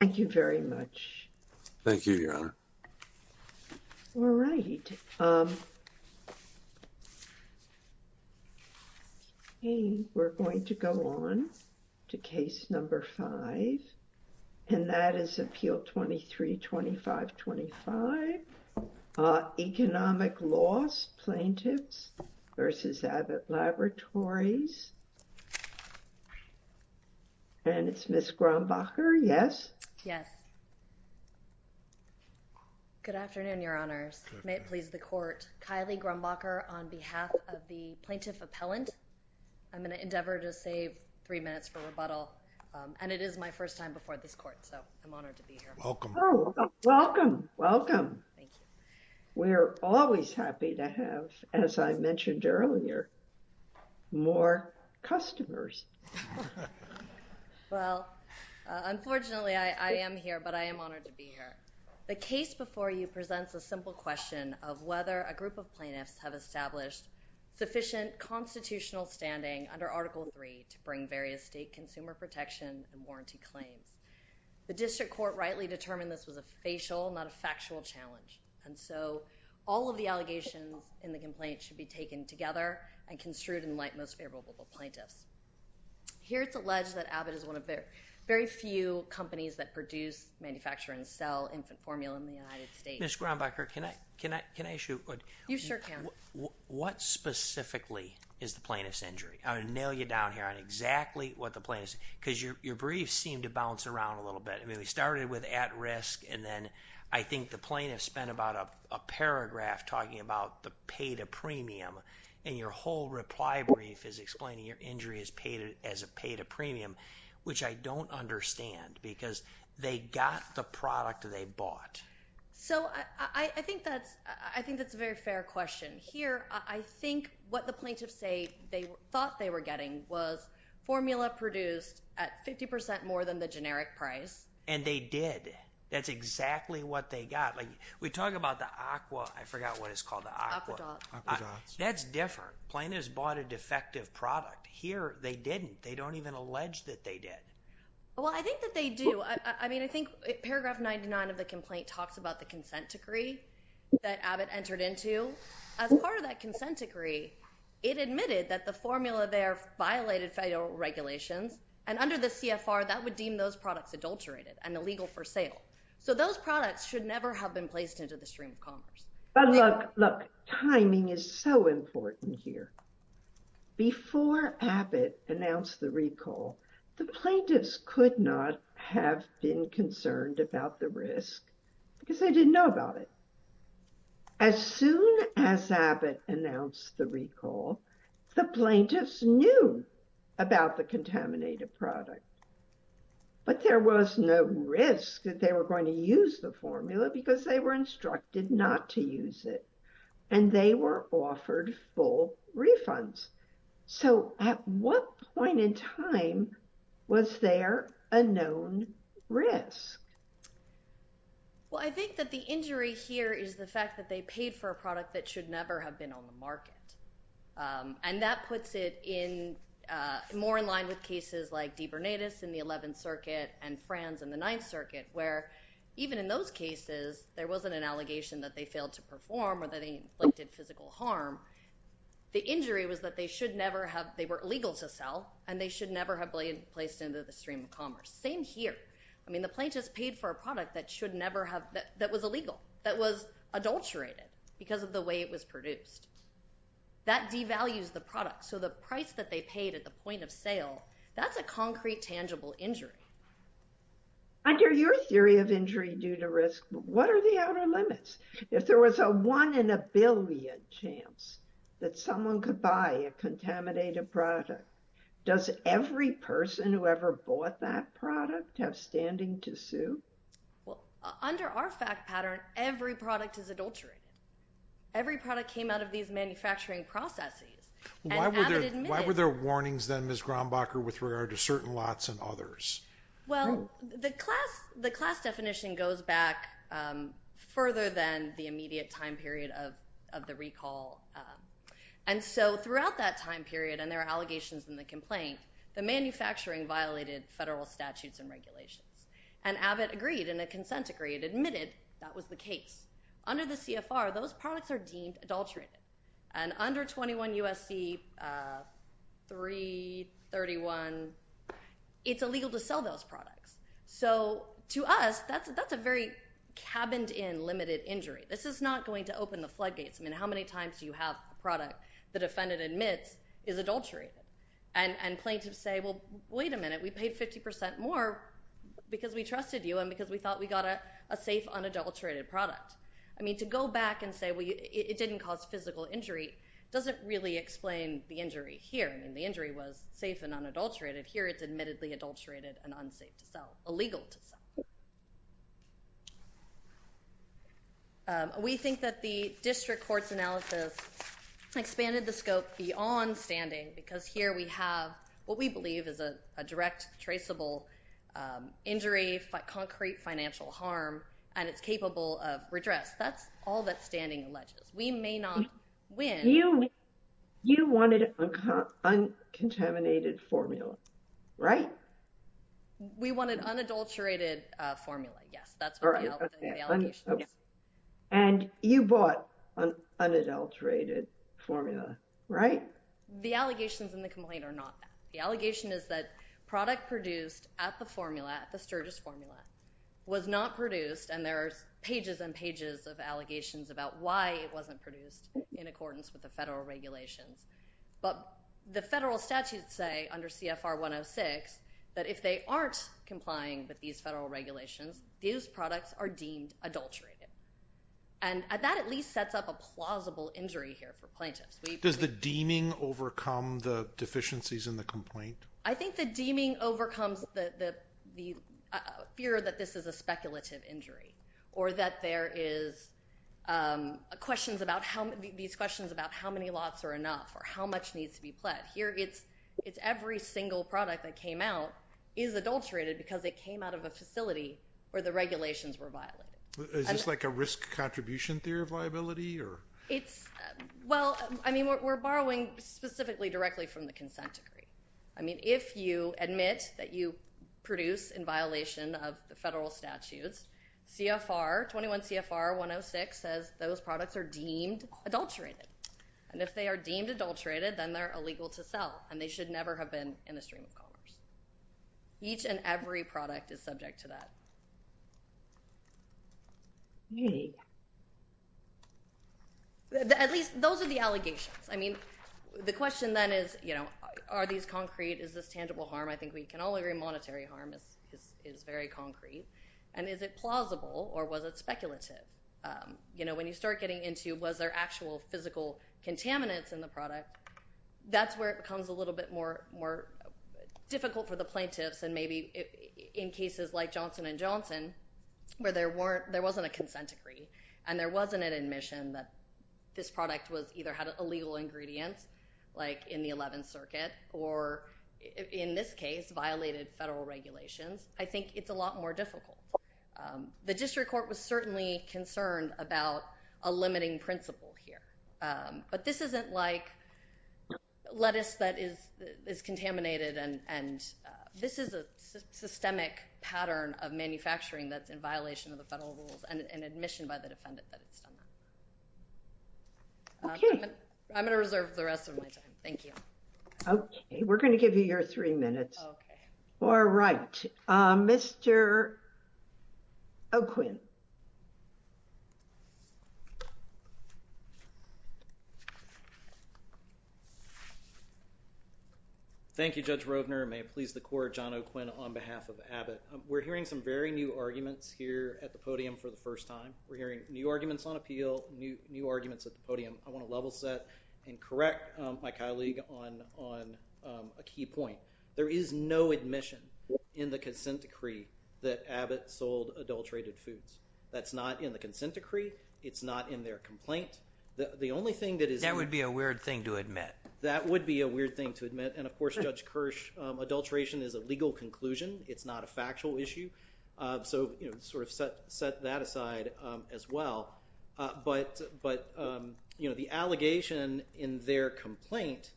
Thank you very much. Thank you, Your Honor. All right. We're going to go on to case number five. And that is Appeal 23-2525 Economic Loss Plaintiffs v. Abbott Laboratories. And it's Ms. Grumbacher, yes? Yes. Good afternoon, Your Honors. May it please the Court. Kylie Grumbacher on behalf of the Plaintiff Appellant. I'm going to endeavor to save three minutes for rebuttal. And it is my first time before this Court, so I'm honored to be here. Welcome. Welcome, welcome. Thank you. We're always happy to have, as I mentioned earlier, more customers. Well, unfortunately, I am here, but I am honored to be here. The case before you presents a simple question of whether a group of plaintiffs have established sufficient constitutional standing under Article III to bring various state consumer protection and warranty claims. The district court rightly determined this was a facial, not a factual challenge. And so all of the allegations in the complaint should be taken together and construed in light of most favorable plaintiffs. Here it's alleged that Abbott is one of the very few companies that produce, manufacture, and sell infant formula in the United States. Ms. Grumbacher, can I ask you a question? You sure can. What specifically is the plaintiff's injury? Because your briefs seem to bounce around a little bit. I mean, we started with at-risk, and then I think the plaintiff spent about a paragraph talking about the pay-to-premium, and your whole reply brief is explaining your injury as a pay-to-premium, which I don't understand because they got the product they bought. So I think that's a very fair question. Here, I think what the plaintiffs say they thought they were getting was formula produced at 50% more than the generic price. And they did. That's exactly what they got. We talk about the aqua. I forgot what it's called, the aqua. That's different. Plaintiffs bought a defective product. Here they didn't. They don't even allege that they did. Well, I think that they do. I mean, I think paragraph 99 of the complaint talks about the consent decree that Abbott entered into. As part of that consent decree, it admitted that the formula there violated federal regulations, and under the CFR, that would deem those products adulterated and illegal for sale. So those products should never have been placed into the stream of commerce. But look, look, timing is so important here. Before Abbott announced the recall, the plaintiffs could not have been concerned about the risk because they didn't know about it. As soon as Abbott announced the recall, the plaintiffs knew about the contaminated product. But there was no risk that they were going to use the formula because they were instructed not to use it. And they were offered full refunds. So at what point in time was there a known risk? Well, I think that the injury here is the fact that they paid for a product that should never have been on the market. And that puts it more in line with cases like DiBernatis in the 11th Circuit and Franz in the 9th Circuit, where even in those cases, there wasn't an allegation that they failed to perform or that they inflicted physical harm. The injury was that they were illegal to sell, and they should never have been placed into the stream of commerce. Same here. I mean, the plaintiffs paid for a product that was illegal, that was adulterated because of the way it was produced. That devalues the product. So the price that they paid at the point of sale, that's a concrete, tangible injury. Under your theory of injury due to risk, what are the outer limits? If there was a one in a billion chance that someone could buy a contaminated product, does every person who ever bought that product have standing to sue? Well, under our fact pattern, every product is adulterated. Every product came out of these manufacturing processes. Why were there warnings then, Ms. Graumbacher, with regard to certain lots and others? Well, the class definition goes back further than the immediate time period of the recall. And so throughout that time period, and there are allegations in the complaint, the manufacturing violated federal statutes and regulations. And Abbott agreed, and a consent agreed, admitted that was the case. Under the CFR, those products are deemed adulterated. And under 21 U.S.C. 331, it's illegal to sell those products. So to us, that's a very cabined-in, limited injury. This is not going to open the floodgates. I mean, how many times do you have a product the defendant admits is adulterated? And plaintiffs say, well, wait a minute. We paid 50% more because we trusted you and because we thought we got a safe, unadulterated product. I mean, to go back and say it didn't cause physical injury doesn't really explain the injury here. I mean, the injury was safe and unadulterated. Here it's admittedly adulterated and unsafe to sell, illegal to sell. We think that the district court's analysis expanded the scope beyond standing because here we have what we believe is a direct, traceable injury, concrete financial harm, and it's capable of redress. That's all that standing alleges. We may not win. You wanted an uncontaminated formula, right? We wanted unadulterated formula, yes. That's what the allegation is. And you bought an unadulterated formula, right? The allegations in the complaint are not that. The allegation is that product produced at the formula, at the Sturgis formula, was not produced, and there are pages and pages of allegations about why it wasn't produced in accordance with the federal regulations. But the federal statutes say, under CFR 106, that if they aren't complying with these federal regulations, these products are deemed adulterated. And that at least sets up a plausible injury here for plaintiffs. Does the deeming overcome the deficiencies in the complaint? I think the deeming overcomes the fear that this is a speculative injury or that there is questions about how many lots are enough or how much needs to be pled. Here it's every single product that came out is adulterated because it came out of a facility where the regulations were violated. Is this like a risk contribution theory of liability? Well, I mean, we're borrowing specifically directly from the consent decree. I mean, if you admit that you produce in violation of the federal statutes, CFR 21 CFR 106 says those products are deemed adulterated. And if they are deemed adulterated, then they're illegal to sell, and they should never have been in the stream of commerce. Each and every product is subject to that. Really? At least those are the allegations. I mean, the question then is, you know, are these concrete? Is this tangible harm? I think we can all agree monetary harm is very concrete. And is it plausible or was it speculative? You know, when you start getting into was there actual physical contaminants in the product, that's where it becomes a little bit more difficult for the plaintiffs and maybe in cases like Johnson & Johnson where there wasn't a consent decree and there wasn't an admission that this product either had illegal ingredients, like in the 11th Circuit, or in this case violated federal regulations, I think it's a lot more difficult. The district court was certainly concerned about a limiting principle here. But this isn't like lettuce that is contaminated, and this is a systemic pattern of manufacturing that's in violation of the federal rules and admission by the defendant that it's done that. Okay. I'm going to reserve the rest of my time. Thank you. Okay. We're going to give you your three minutes. Okay. All right. Mr. O'Quinn. Thank you, Judge Rovner. May it please the Court, John O'Quinn on behalf of Abbott. We're hearing some very new arguments here at the podium for the first time. We're hearing new arguments on appeal, new arguments at the podium. I want to level set and correct my colleague on a key point. There is no admission in the consent decree that Abbott sold adulterated foods. That's not in the consent decree. It's not in their complaint. The only thing that is— That would be a weird thing to admit. That would be a weird thing to admit. And, of course, Judge Kirsch, adulteration is a legal conclusion. It's not a factual issue. So, you know, sort of set that aside as well. But, you know, the allegation in their complaint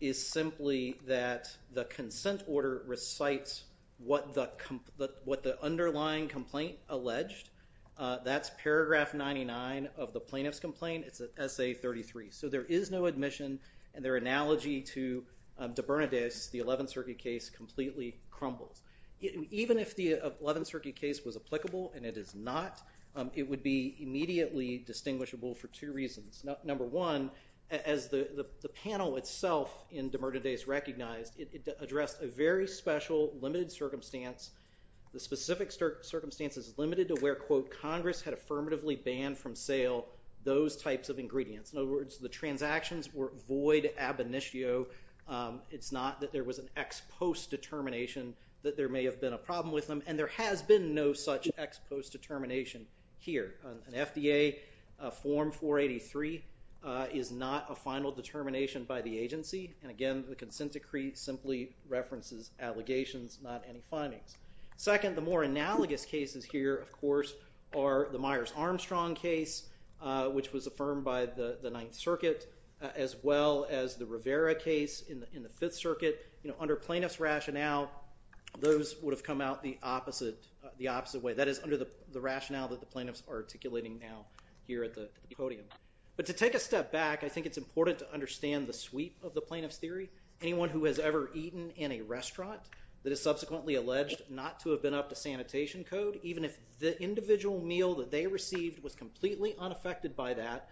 is simply that the consent order recites what the underlying complaint alleged. That's paragraph 99 of the plaintiff's complaint. It's at SA33. So there is no admission, and their analogy to DeBernadese, the 11th Circuit case, completely crumbles. Even if the 11th Circuit case was applicable, and it is not, it would be immediately distinguishable for two reasons. Number one, as the panel itself in DeBernadese recognized, it addressed a very special limited circumstance. The specific circumstance is limited to where, quote, Congress had affirmatively banned from sale those types of ingredients. In other words, the transactions were void ab initio. It's not that there was an ex post determination that there may have been a problem with them. And there has been no such ex post determination here. An FDA Form 483 is not a final determination by the agency. And, again, the consent decree simply references allegations, not any findings. Second, the more analogous cases here, of course, are the Myers-Armstrong case, which was affirmed by the 9th Circuit, as well as the Rivera case in the 5th Circuit. Under plaintiff's rationale, those would have come out the opposite way. That is under the rationale that the plaintiffs are articulating now here at the podium. But to take a step back, I think it's important to understand the sweep of the plaintiff's theory. Anyone who has ever eaten in a restaurant that is subsequently alleged not to have been up to sanitation code, even if the individual meal that they received was completely unaffected by that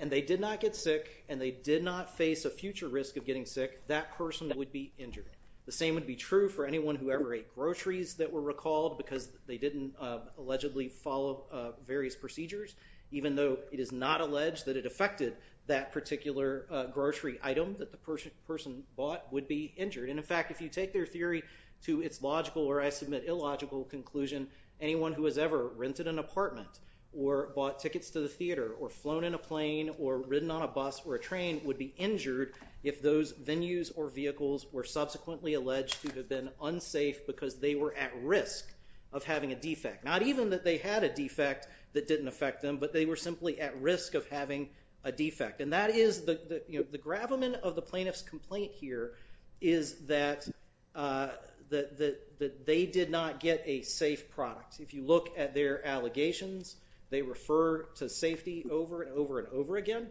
and they did not get sick and they did not face a future risk of getting sick, that person would be injured. The same would be true for anyone who ever ate groceries that were recalled because they didn't allegedly follow various procedures, even though it is not alleged that it affected that particular grocery item that the person bought, would be injured. And, in fact, if you take their theory to its logical or, I submit, illogical conclusion, anyone who has ever rented an apartment or bought tickets to the theater or flown in a plane or ridden on a bus or a train would be injured if those venues or vehicles were subsequently alleged to have been unsafe Not even that they had a defect that didn't affect them, but they were simply at risk of having a defect. And that is the gravamen of the plaintiff's complaint here is that they did not get a safe product. If you look at their allegations, they refer to safety over and over and over again.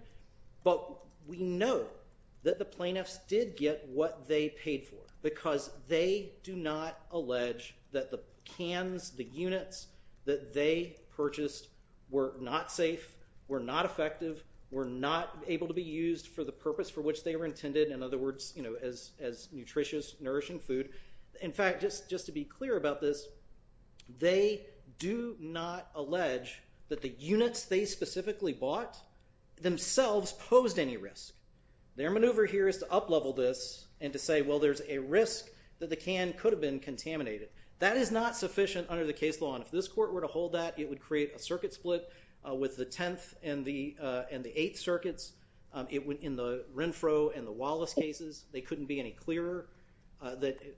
But we know that the plaintiffs did get what they paid for because they do not allege that the cans, the units that they purchased were not safe, were not effective, were not able to be used for the purpose for which they were intended, in other words, as nutritious, nourishing food. In fact, just to be clear about this, they do not allege that the units they specifically bought themselves posed any risk. Their maneuver here is to up-level this and to say, well, there's a risk that the can could have been contaminated. That is not sufficient under the case law. And if this court were to hold that, it would create a circuit split with the 10th and the 8th circuits. In the Renfro and the Wallace cases, they couldn't be any clearer.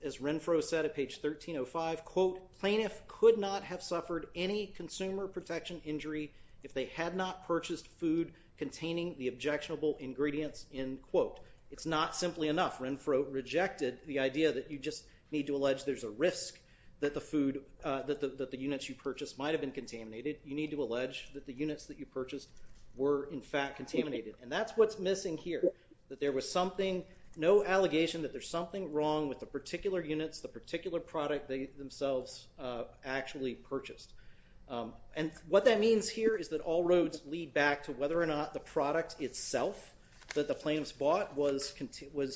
As Renfro said at page 1305, quote, plaintiff could not have suffered any consumer protection injury if they had not purchased food containing the objectionable ingredients, end quote. It's not simply enough. Renfro rejected the idea that you just need to allege there's a risk that the units you purchased might have been contaminated. You need to allege that the units that you purchased were, in fact, contaminated. And that's what's missing here, that there was no allegation that there's something wrong with the particular units, the particular product they themselves actually purchased. And what that means here is that all roads lead back to whether or not the product itself that the plaintiffs bought was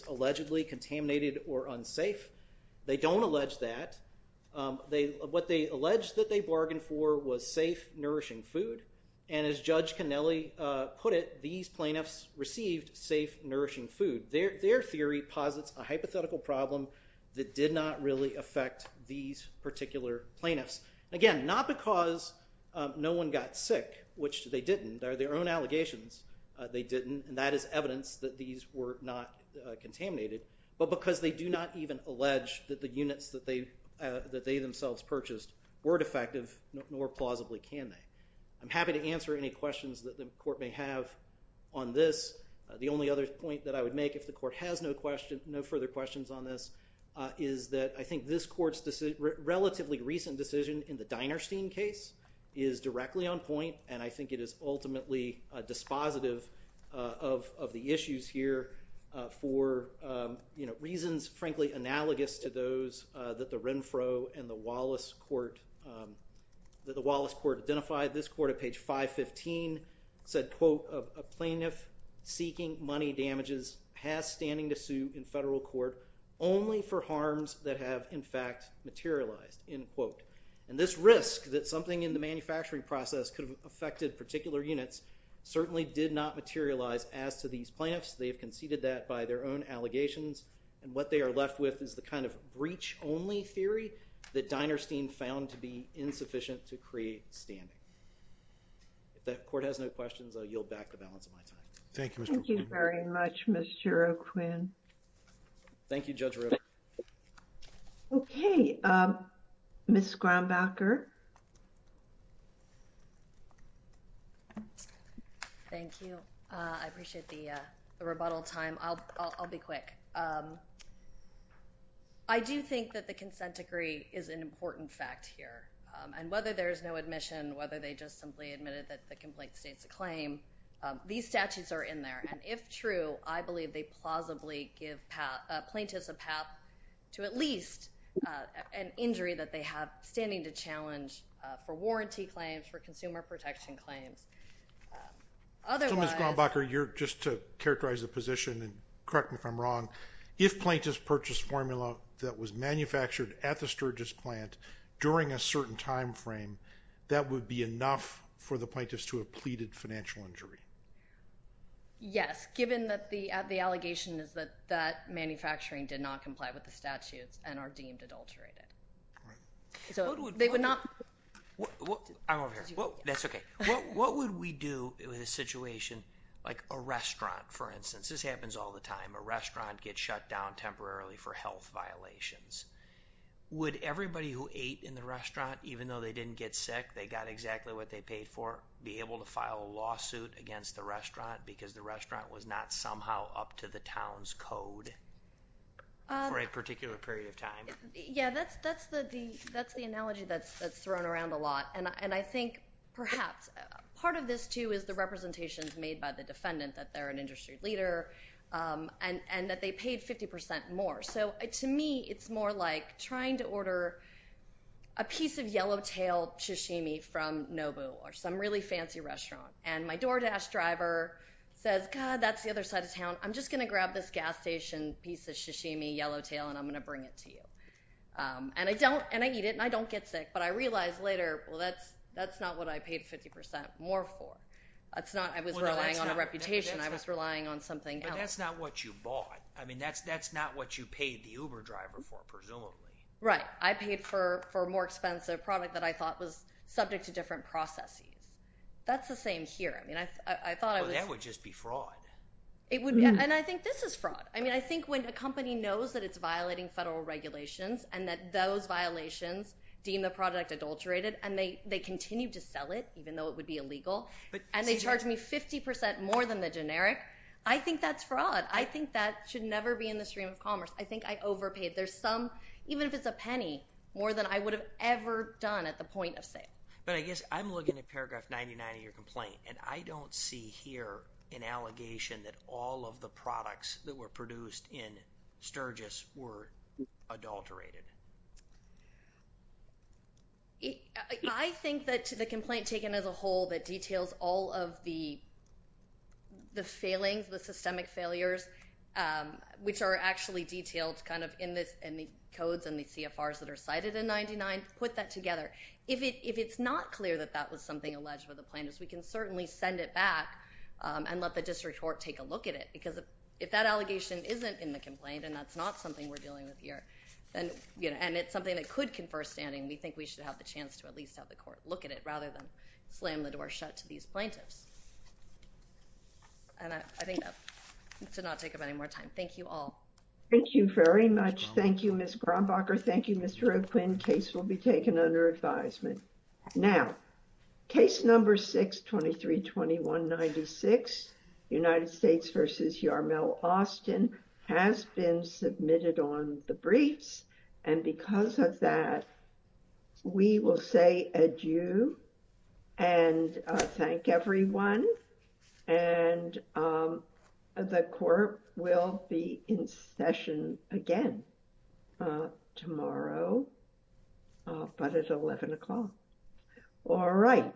allegedly contaminated or unsafe. They don't allege that. What they allege that they bargained for was safe, nourishing food. And as Judge Cannelli put it, these plaintiffs received safe, nourishing food. Their theory posits a hypothetical problem that did not really affect these particular plaintiffs. Again, not because no one got sick, which they didn't. They're their own allegations. They didn't. And that is evidence that these were not contaminated. But because they do not even allege that the units that they themselves purchased were defective, nor plausibly can they. I'm happy to answer any questions that the court may have on this. The only other point that I would make, if the court has no further questions on this, is that I think this court's relatively recent decision in the Dinerstein case is directly on point. And I think it is ultimately dispositive of the issues here for reasons, frankly, analogous to those that the Renfro and the Wallace court identified. This court at page 515 said, quote, a plaintiff seeking money damages has standing to sue in federal court only for harms that have, in fact, materialized, end quote. And this risk that something in the manufacturing process could have affected particular units certainly did not materialize as to these plaintiffs. They have conceded that by their own allegations. And what they are left with is the kind of breach-only theory that Dinerstein found to be insufficient to create standing. If the court has no questions, I'll yield back the balance of my time. Thank you, Mr. O'Quinn. Thank you very much, Mr. O'Quinn. Thank you, Judge Rivera. Okay. Ms. Graumbacher. Thank you. I appreciate the rebuttal time. I'll be quick. I do think that the consent decree is an important fact here. And whether there is no admission, whether they just simply admitted that the complaint states a claim, these statutes are in there. And if true, I believe they plausibly give plaintiffs a path to at least an injury that they have standing to challenge for warranty claims, for consumer protection claims. So, Ms. Graumbacher, just to characterize the position, and correct me if I'm wrong, if plaintiffs purchased formula that was manufactured at the Sturgis plant during a certain time frame, that would be enough for the plaintiffs to have pleaded financial injury? Yes, given that the allegation is that that manufacturing did not comply with the statutes and are deemed adulterated. I'm over here. That's okay. What would we do in a situation like a restaurant, for instance? This happens all the time. A restaurant gets shut down temporarily for health violations. Would everybody who ate in the restaurant, even though they didn't get sick, they got exactly what they paid for, be able to file a lawsuit against the restaurant because the restaurant was not somehow up to the town's code for a particular period of time? Yeah, that's the analogy that's thrown around a lot. And I think perhaps part of this, too, is the representations made by the defendant, that they're an industry leader and that they paid 50% more. So, to me, it's more like trying to order a piece of yellowtail sashimi from Nobu or some really fancy restaurant, and my door dash driver says, God, that's the other side of town. I'm just going to grab this gas station piece of sashimi, yellowtail, and I'm going to bring it to you. And I eat it and I don't get sick, but I realize later, well, that's not what I paid 50% more for. I was relying on a reputation. I was relying on something else. But that's not what you bought. I mean, that's not what you paid the Uber driver for, presumably. Right. I paid for a more expensive product that I thought was subject to different processes. That's the same here. Well, that would just be fraud. It would be, and I think this is fraud. I mean, I think when a company knows that it's violating federal regulations and that those violations deem the product adulterated and they continue to sell it even though it would be illegal and they charge me 50% more than the generic, I think that's fraud. I think that should never be in the stream of commerce. I think I overpaid. There's some, even if it's a penny, more than I would have ever done at the point of sale. But I guess I'm looking at paragraph 99 of your complaint, and I don't see here an allegation that all of the products that were produced in Sturgis were adulterated. I think that to the complaint taken as a whole that details all of the failings, the systemic failures, which are actually detailed kind of in the codes and the CFRs that are cited in 99, put that together. If it's not clear that that was something alleged by the plaintiffs, we can certainly send it back and let the district court take a look at it. Because if that allegation isn't in the complaint and that's not something we're dealing with here, and it's something that could confer standing, we think we should have the chance to at least have the court look at it rather than slam the door shut to these plaintiffs. And I think that should not take up any more time. Thank you all. Thank you very much. Thank you, Ms. Grambacher. Thank you, Mr. O'Quinn. And the case will be taken under advisement. Now, case number 623-2196, United States v. Yarmel Austin, has been submitted on the briefs. And because of that, we will say adieu and thank everyone. And the court will be in session again tomorrow, but at 11 o'clock. All right.